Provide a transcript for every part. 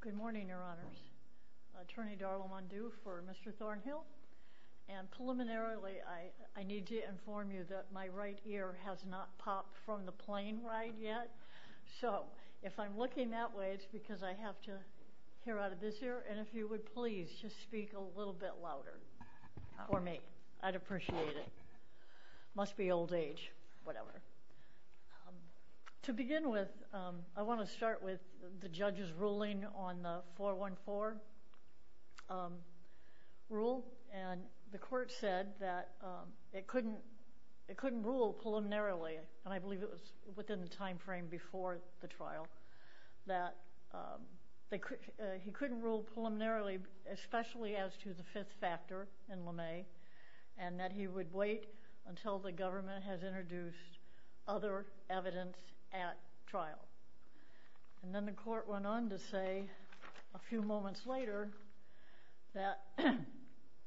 Good morning, your honors. Attorney Darla Mundu for Mr. Thornhill, and preliminarily I need to inform you that my right ear has not popped from the plane ride yet, so if I'm looking that way it's because I have to hear out of this ear, and if you would please just speak a little bit louder for me, I'd appreciate it. Must be old age, whatever. To begin with, I want to start with the judge's ruling on the 414 rule, and the court said that it couldn't rule preliminarily, and I believe it was within the time frame before the trial, that he couldn't rule preliminarily, especially as to the fifth factor in LeMay, and that he would wait until the government has introduced other evidence at trial. And then the court went on to say a few moments later that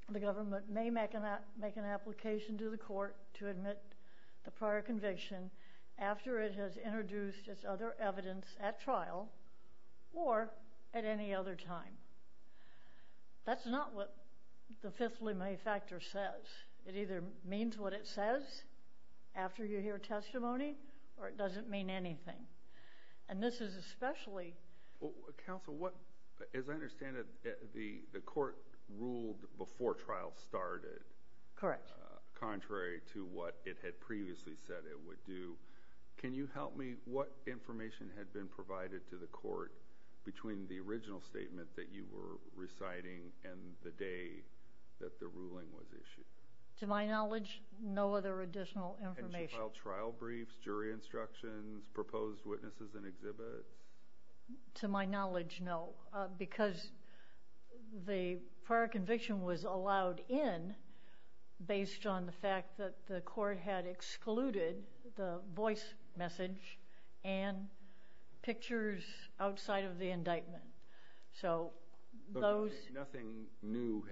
the government may make an application to the court to admit the prior conviction after it has introduced its other evidence at trial, or at any other time. That's not what the fifth LeMay factor says. It either means what it says after you hear testimony, or it doesn't mean anything. And this is especially – Well, counsel, as I understand it, the court ruled before trial started, contrary to what it had previously said it would do. Can you help me? What information had been provided to the court between the original statement that you were reciting and the day that the ruling was issued? To my knowledge, no other additional information. And she filed trial briefs, jury instructions, proposed witnesses and exhibits? To my knowledge, no, because the prior conviction was allowed in based on the fact that the court had excluded the voice message and pictures outside of the indictment. So those – But nothing new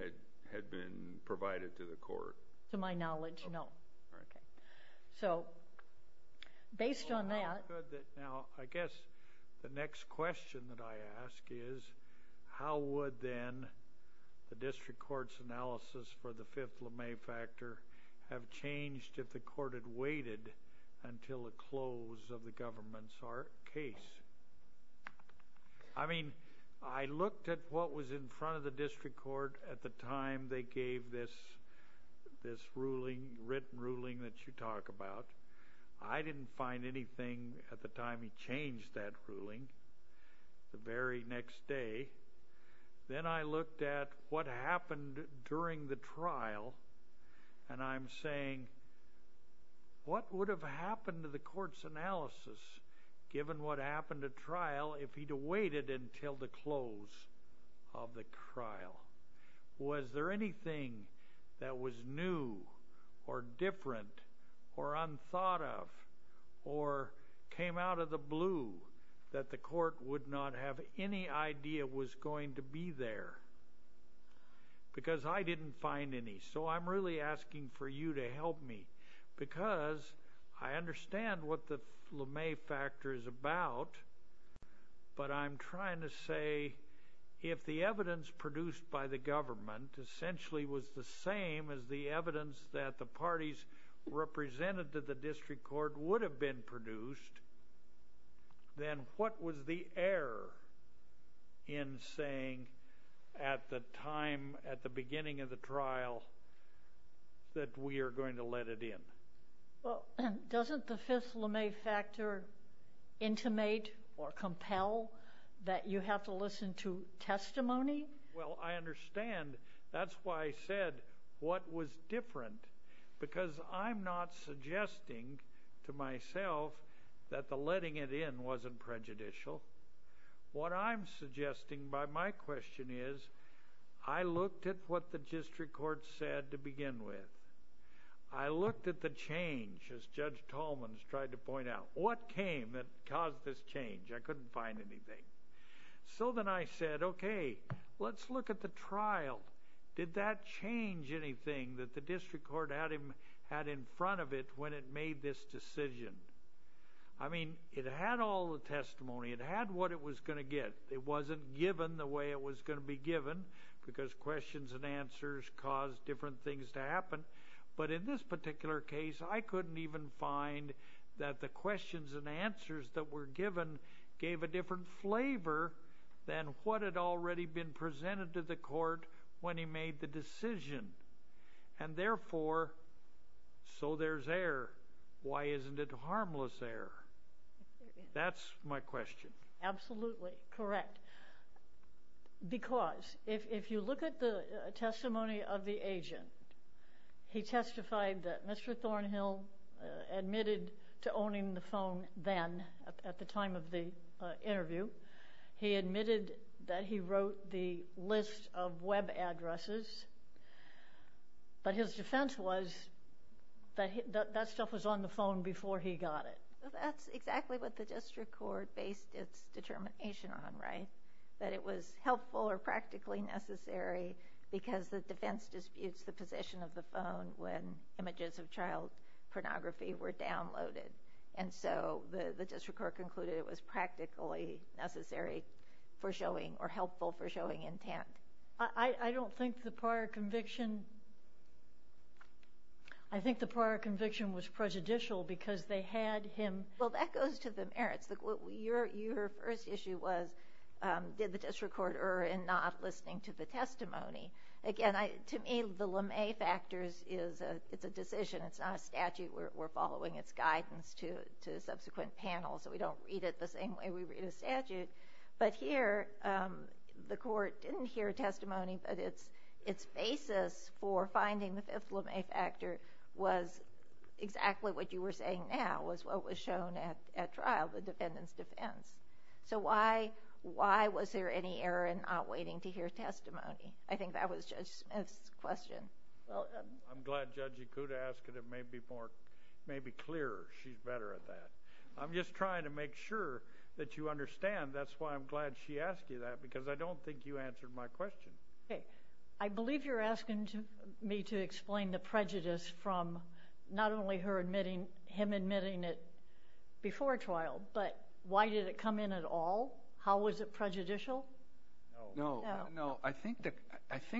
had been provided to the court? To my knowledge, no. All right. Okay. So based on that – Well, now, I guess the next question that I ask is, how would then the district court's ruling on the Fifth LeMay factor have changed if the court had waited until the close of the government's case? I mean, I looked at what was in front of the district court at the time they gave this ruling, written ruling that you talk about. I didn't find anything at the time he changed that ruling the very next day. Then I looked at what happened during the trial, and I'm saying, what would have happened to the court's analysis given what happened at trial if he'd waited until the close of the trial? Was there anything that was new or different or unthought of or came out of the blue that the court would not have any idea was going to be there? Because I didn't find any. So I'm really asking for you to help me because I understand what the LeMay factor is about, but I'm trying to say, if the evidence produced by the government essentially was the same as the evidence that the parties represented to the district court would have been produced, then what was the error in saying at the time, at the beginning of the trial, that we are going to let it in? Well, doesn't the Fifth LeMay factor intimate or compel that you have to listen to testimony? Well, I understand. That's why I said what was different, because I'm not suggesting to myself that the letting it in wasn't prejudicial. What I'm suggesting by my question is, I looked at what the district court said to begin with. I looked at the change, as Judge Tallman's tried to point out. What came that caused this change? I couldn't find anything. So then I said, okay, let's look at the trial. Did that change anything that the district court had in front of it when it made this decision? I mean, it had all the testimony. It had what it was going to get. It wasn't given the way it was going to be given, because questions and answers cause different things to happen. But in this particular case, I couldn't even find that the then what had already been presented to the court when he made the decision. And therefore, so there's error. Why isn't it harmless error? That's my question. Absolutely. Correct. Because if you look at the testimony of the agent, he testified that Mr. Thornhill admitted to owning the phone then, at the time of the interview, he admitted that he wrote the list of web addresses. But his defense was that that stuff was on the phone before he got it. That's exactly what the district court based its determination on, right? That it was helpful or practically necessary because the defense disputes the position of the phone when images of child pornography were downloaded. And so the district court concluded it was practically necessary for showing or helpful for showing intent. I don't think the prior conviction. I think the prior conviction was prejudicial because they had him. Well, that goes to the merits. Your first issue was, did the district court err in not listening to the testimony? Again, to me, the LeMay factors is a decision. It's not a statute. We're following its guidance to subsequent panels, so we don't read it the same way we read a statute. But here, the court didn't hear testimony, but its basis for finding the fifth LeMay factor was exactly what you were saying now, was what was shown at trial, the defendant's defense. So why was there any error in not listening? I'm glad Judge Ikuda asked it. It may be clearer. She's better at that. I'm just trying to make sure that you understand. That's why I'm glad she asked you that because I don't think you answered my question. Okay. I believe you're asking me to explain the prejudice from not only him admitting it before trial, but why did it come in at all? How was it prejudicial? No. I think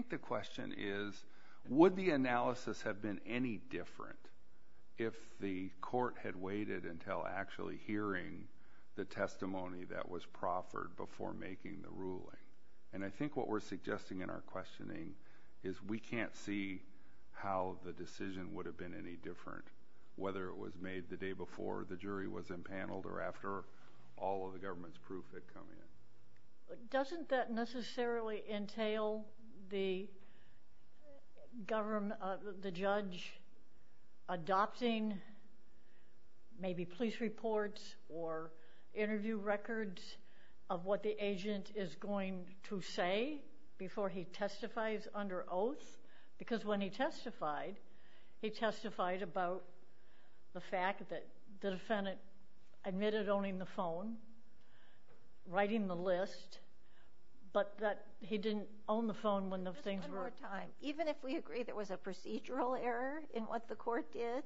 the question is, would the analysis have been any different if the court had waited until actually hearing the testimony that was proffered before making the ruling? And I think what we're suggesting in our questioning is we can't see how the decision would have been any different, whether it was made the day before the jury was impaneled or after all of the government's coming in. Doesn't that necessarily entail the judge adopting maybe police reports or interview records of what the agent is going to say before he testifies under oath? Because when he testified, he testified about the fact that the defendant admitted owning the phone, writing the list, but that he didn't own the phone when the things were... Just one more time. Even if we agree there was a procedural error in what the court did,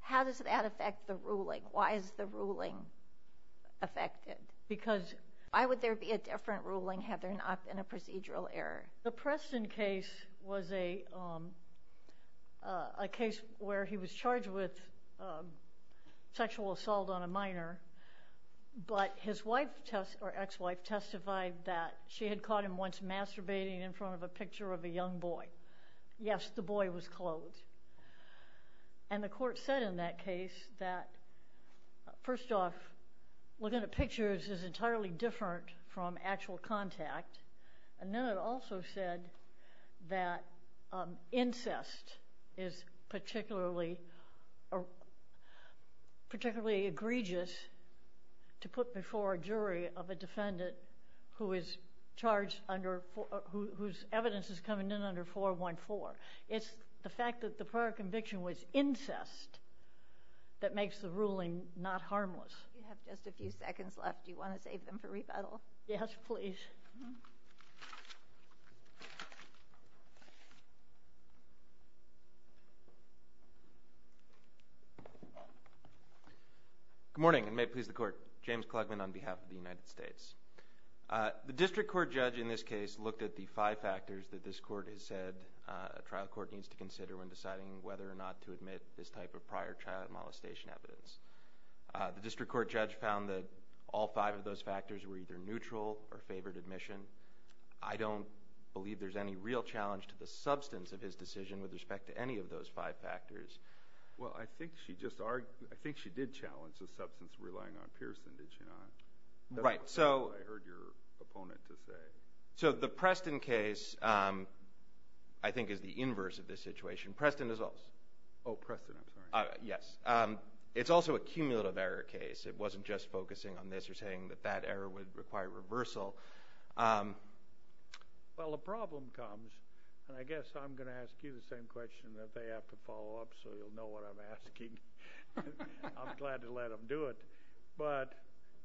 how does that affect the ruling? Why is the ruling affected? Because... Why would there be a different ruling had there been a case where he was charged with sexual assault on a minor, but his ex-wife testified that she had caught him once masturbating in front of a picture of a young boy. Yes, the boy was clothed. And the court said in that case that, first off, looking at pictures is incest is particularly egregious to put before a jury of a defendant whose evidence is coming in under 414. It's the fact that the prior conviction was incest that makes the ruling not harmless. We have just a few seconds left. Do you want to save them for rebuttal? Yes, please. Good morning, and may it please the court. James Klugman on behalf of the United States. The district court judge in this case looked at the five factors that this court has said a trial court needs to consider when deciding whether or not to admit this type of prior child molestation evidence. The district court judge found that all five of those factors were neutral or favored admission. I don't believe there's any real challenge to the substance of his decision with respect to any of those five factors. Well, I think she did challenge the substance relying on Pearson, did she not? That's what I heard your opponent to say. So the Preston case, I think, is the inverse of this situation. Preston as well. Oh, Preston, I'm sorry. Yes, it's also a cumulative error case. It wasn't just focusing on this or saying that error would require reversal. Well, the problem comes, and I guess I'm going to ask you the same question that they have to follow up so you'll know what I'm asking. I'm glad to let them do it. But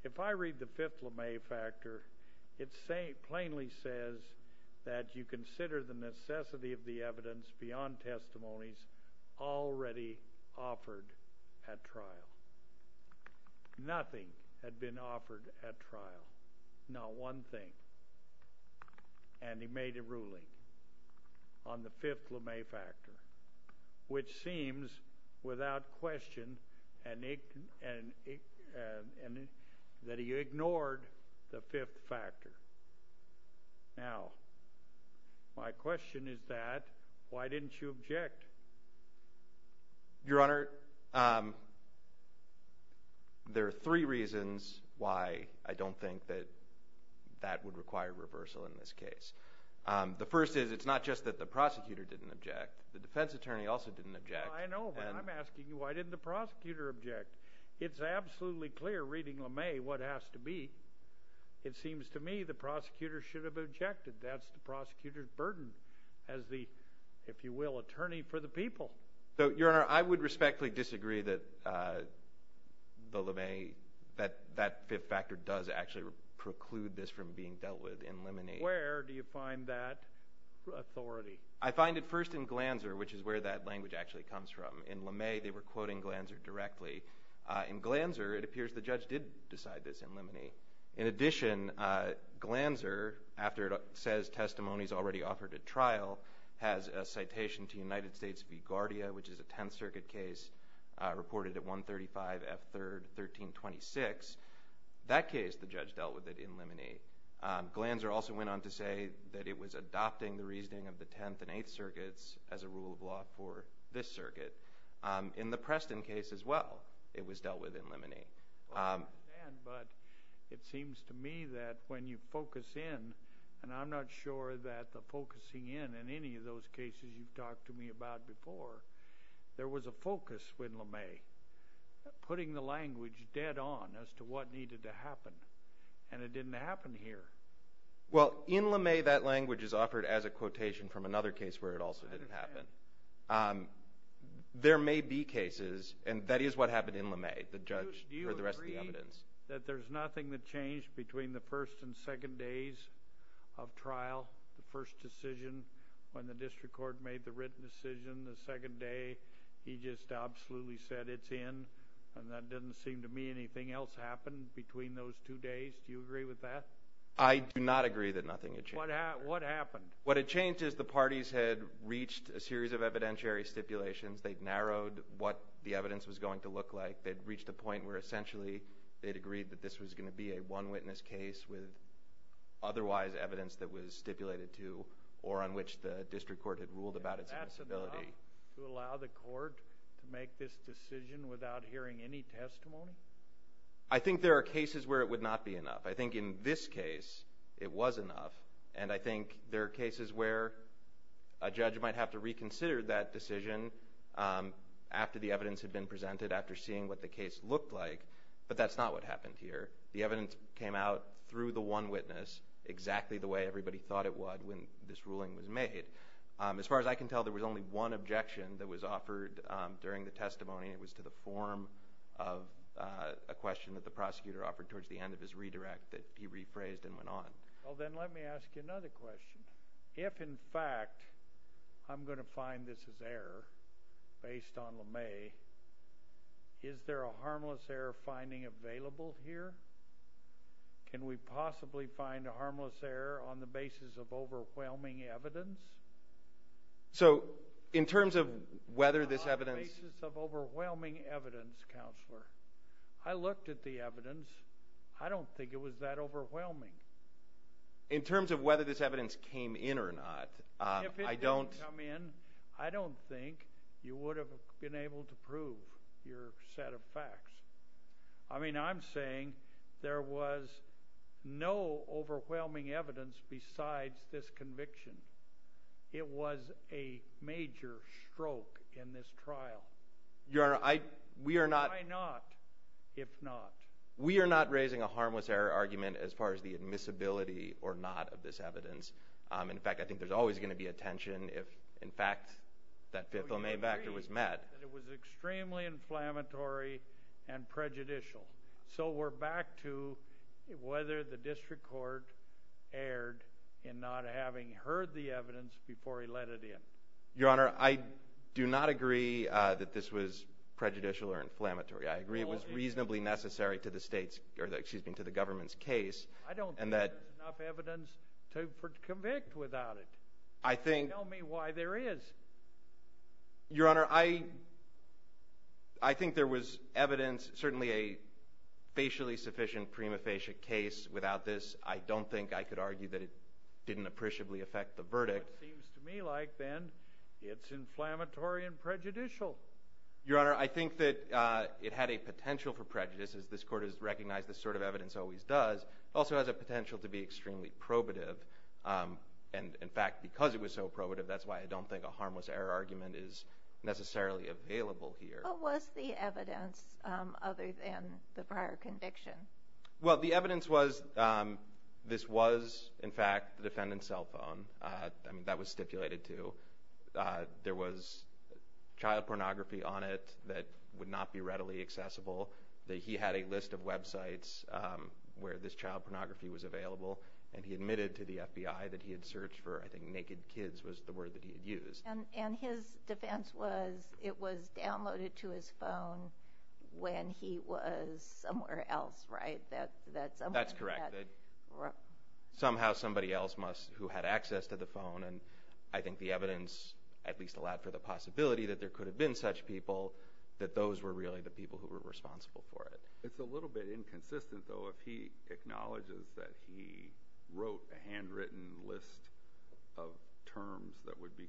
if I read the fifth LeMay factor, it plainly says that you consider the necessity of the evidence beyond testimonies already offered at trial. Nothing had been offered at trial, not one thing. And he made a ruling on the fifth LeMay factor, which seems without question and that he ignored the fifth factor. Now, my question is that, why didn't you object? Your Honor, there are three reasons why I don't think that that would require reversal in this case. The first is, it's not just that the prosecutor didn't object. The defense attorney also didn't object. I know, but I'm asking you, why didn't the prosecutor object? It's absolutely clear, reading LeMay, what has to be. It seems to me the prosecutor should have objected. That's the prosecutor's burden as the, if you will, attorney for the people. So, Your Honor, I would respectfully disagree that the LeMay, that that fifth factor does actually preclude this from being dealt with in Lemonade. Where do you find that authority? I find it first in Glanzer, which is where that language actually comes from. In LeMay, they were quoting Glanzer directly. In Glanzer, it appears the judge did decide this in Lemonade. In addition, Glanzer, after it says testimonies already offered at trial, has a citation to United States v. Guardia, which is a Tenth Circuit case reported at 135 F. 3rd, 1326. That case, the judge dealt with it in Lemonade. Glanzer also went on to say that it was adopting the reasoning of the Tenth and Eighth Circuits as a rule of law for this circuit. In the Preston case as well, it was dealt with in Lemonade. I understand, but it seems to me that when you focus in, and I'm not sure that the focusing in in any of those cases you've talked to me about before, there was a focus with LeMay, putting the language dead on as to what needed to happen, and it didn't happen here. Well, in LeMay, that language is offered as a quotation from another case where it also didn't happen. There may be cases, and that is what happened in LeMay, the judge or the rest of the evidence. Do you agree that there's nothing that changed between the first and second days of trial, the first decision when the district court made the written decision, the second day he just absolutely said it's in, and that doesn't seem to me anything else happened between those two days. Do you agree with that? I do not agree that nothing had changed. What happened? What had changed is the parties had reached a series of evidentiary stipulations. They'd narrowed what the evidence was going to look like. They'd reached a point where essentially they'd agreed that this was going to be a one-witness case with otherwise evidence that was stipulated to or on which the district court had ruled about its incivility. That's enough to allow the court to make this decision without hearing any testimony? I think there are cases where it would not be enough. I think in this case it was enough, and I think there are cases where a judge might have to reconsider that decision after the evidence had been presented, after seeing what the case looked like, but that's not what happened here. The evidence came out through the one witness exactly the way everybody thought it would when this ruling was made. As far as I can tell, there was only one objection that was offered during the testimony. It was to the form of a question that the prosecutor offered towards the end of his redirect that he rephrased and went on. Well then let me ask you another question. If in fact I'm going to find this is error based on Lemay, is there a harmless error finding available here? Can we possibly find a harmless error on the basis of overwhelming evidence? So in terms of whether this evidence... I looked at the evidence. I don't think it was that overwhelming. In terms of whether this evidence came in or not, I don't think you would have been able to prove your set of facts. I mean I'm saying there was no overwhelming evidence besides this conviction. It was a if not. We are not raising a harmless error argument as far as the admissibility or not of this evidence. In fact, I think there's always going to be a tension if in fact that fifth Lemay factor was met. It was extremely inflammatory and prejudicial. So we're back to whether the district court erred in not having heard the evidence before he let it in. Your honor, I do not agree that this was prejudicial or inflammatory. I agree it was reasonably necessary to the government's case. I don't think there's enough evidence to convict without it. Tell me why there is. Your honor, I think there was evidence, certainly a facially sufficient prima facie case without this. I don't think I could argue that it appreciably affect the verdict. It seems to me like then it's inflammatory and prejudicial. Your honor, I think that it had a potential for prejudice as this court has recognized this sort of evidence always does. It also has a potential to be extremely probative. And in fact, because it was so probative, that's why I don't think a harmless error argument is necessarily available here. What was the evidence other than the prior conviction? Well, the evidence was this was in fact the defendant's cell phone. That was stipulated too. There was child pornography on it that would not be readily accessible. He had a list of websites where this child pornography was available. And he admitted to the FBI that he had searched for, I think, naked kids was the word that he had used. And his defense was it was downloaded to his phone when he was somewhere else, right? That's correct. Somehow somebody else must who had access to the phone. And I think the evidence at least allowed for the possibility that there could have been such people that those were really the people who were responsible for it. It's a little bit inconsistent, though, if he acknowledges that he wrote a handwritten list of terms that would be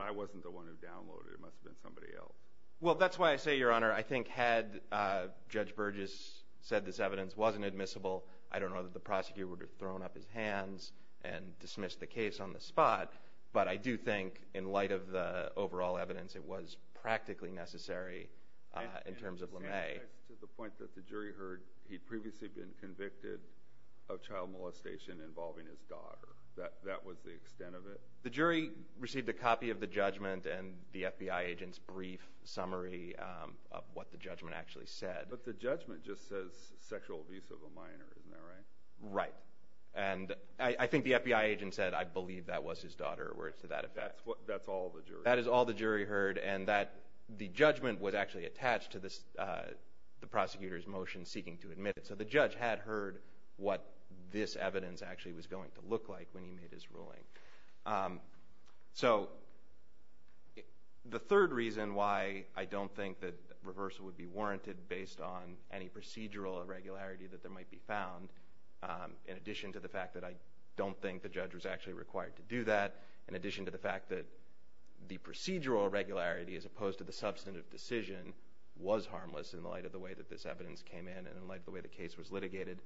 I wasn't the one who downloaded it. It must have been somebody else. Well, that's why I say, Your Honor, I think had Judge Burgess said this evidence wasn't admissible, I don't know that the prosecutor would have thrown up his hands and dismissed the case on the spot. But I do think in light of the overall evidence, it was practically necessary in terms of LeMay to the point that the jury heard he'd previously been convicted of child molestation involving his daughter. That that was the extent of it. The jury received a copy of the judgment and the FBI agent's brief summary of what the judgment actually said. But the judgment just says sexual abuse of a minor, isn't that right? Right. And I think the FBI agent said, I believe that was his daughter or words to that effect. That's all the jury. That is all the jury heard. And that the judgment was actually attached to the prosecutor's motion seeking to admit it. So the judge had heard what this evidence actually was going to look like when he made his ruling. So the third reason why I don't think that reversal would be warranted based on any procedural irregularity that there might be found, in addition to the fact that I don't think the judge was actually required to do that, in addition to the fact that the procedural irregularity as opposed to the substantive decision was harmless in light of the way that this evidence came in and in light of the way the case was litigated.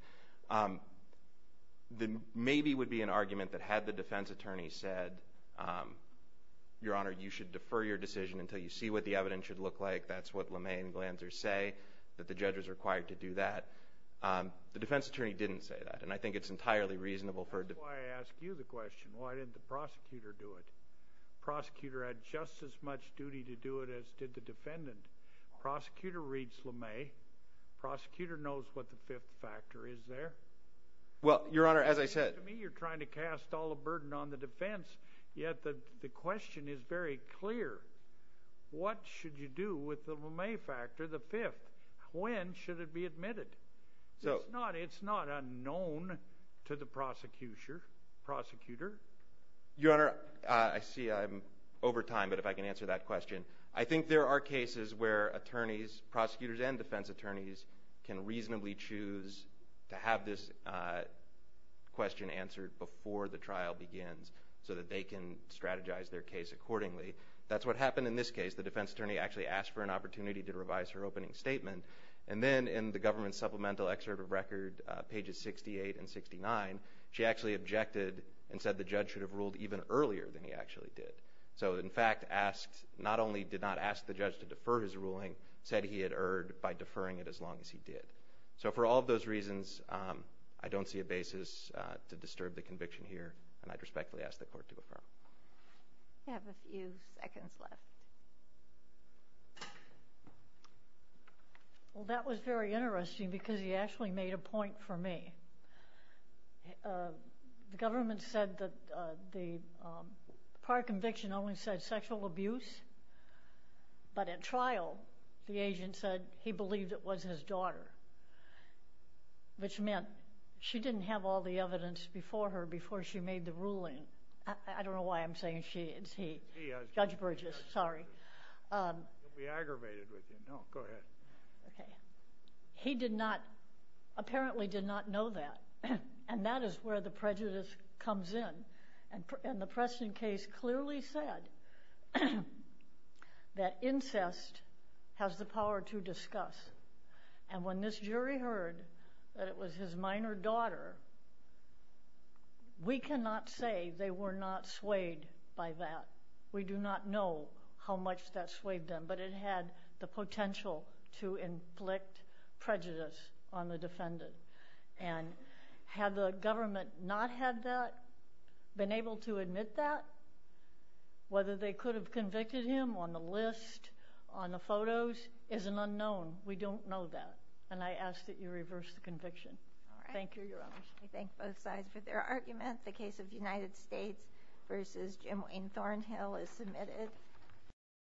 The maybe would be an argument that had the defense attorney said, your honor, you should defer your decision until you see what the evidence should look like. That's what LeMay and Glanzer say, that the judge was required to do that. The defense attorney didn't say that. And I think it's entirely reasonable for... That's why I asked you the question, why didn't the prosecutor do it? Prosecutor had just as much duty to do it as did the defendant. Prosecutor reads LeMay, prosecutor knows what the fifth factor is there. Well, your honor, as I said... To me, you're trying to cast all the burden on the defense, yet the question is very clear. What should you do with the LeMay factor, the fifth? When should it be admitted? It's not unknown to the prosecutor. Your honor, I see I'm over time, but if I can answer that question. I think there are cases where attorneys, prosecutors and defense attorneys can reasonably choose to have this question answered before the trial begins, so that they can strategize their case accordingly. That's what happened in this case. The defense attorney actually asked for an opportunity to revise her opening statement. And then in the government supplemental excerpt of record, pages 68 and 69, she actually objected and said the judge should have ruled even earlier than he actually did. So in fact, not only did not ask the judge to defer his ruling, said he had erred by deferring it as long as he did. So for all of those reasons, I don't see a basis to disturb the conviction here, and I respectfully ask the court to affirm. You have a few seconds left. Well, that was very interesting because he actually made a point for me. The government said that the prior conviction only said sexual abuse, but at trial, the agent said he believed it was his daughter, which meant she didn't have all the evidence before her, before she made the ruling. I don't know why I'm saying she, it's he. Judge Burgess, sorry. He'll be aggravated with you. No, go ahead. Okay. He did not, apparently did not know that, and that is where the prejudice comes in. And the Preston case clearly said that incest has the power to discuss. And when this jury heard that it was his minor daughter, we cannot say they were not swayed by that. We do not know how much that swayed them, but it had the potential to inflict prejudice on the defendant. And had the government not had that, been able to admit that, whether they could have convicted him on the list, on the photos, is an unknown. We don't know that. And I ask that you reverse the conviction. All right. Thank you, Your Honors. I thank both sides for their argument. The case of United States versus Jim Wayne Thornhill is submitted.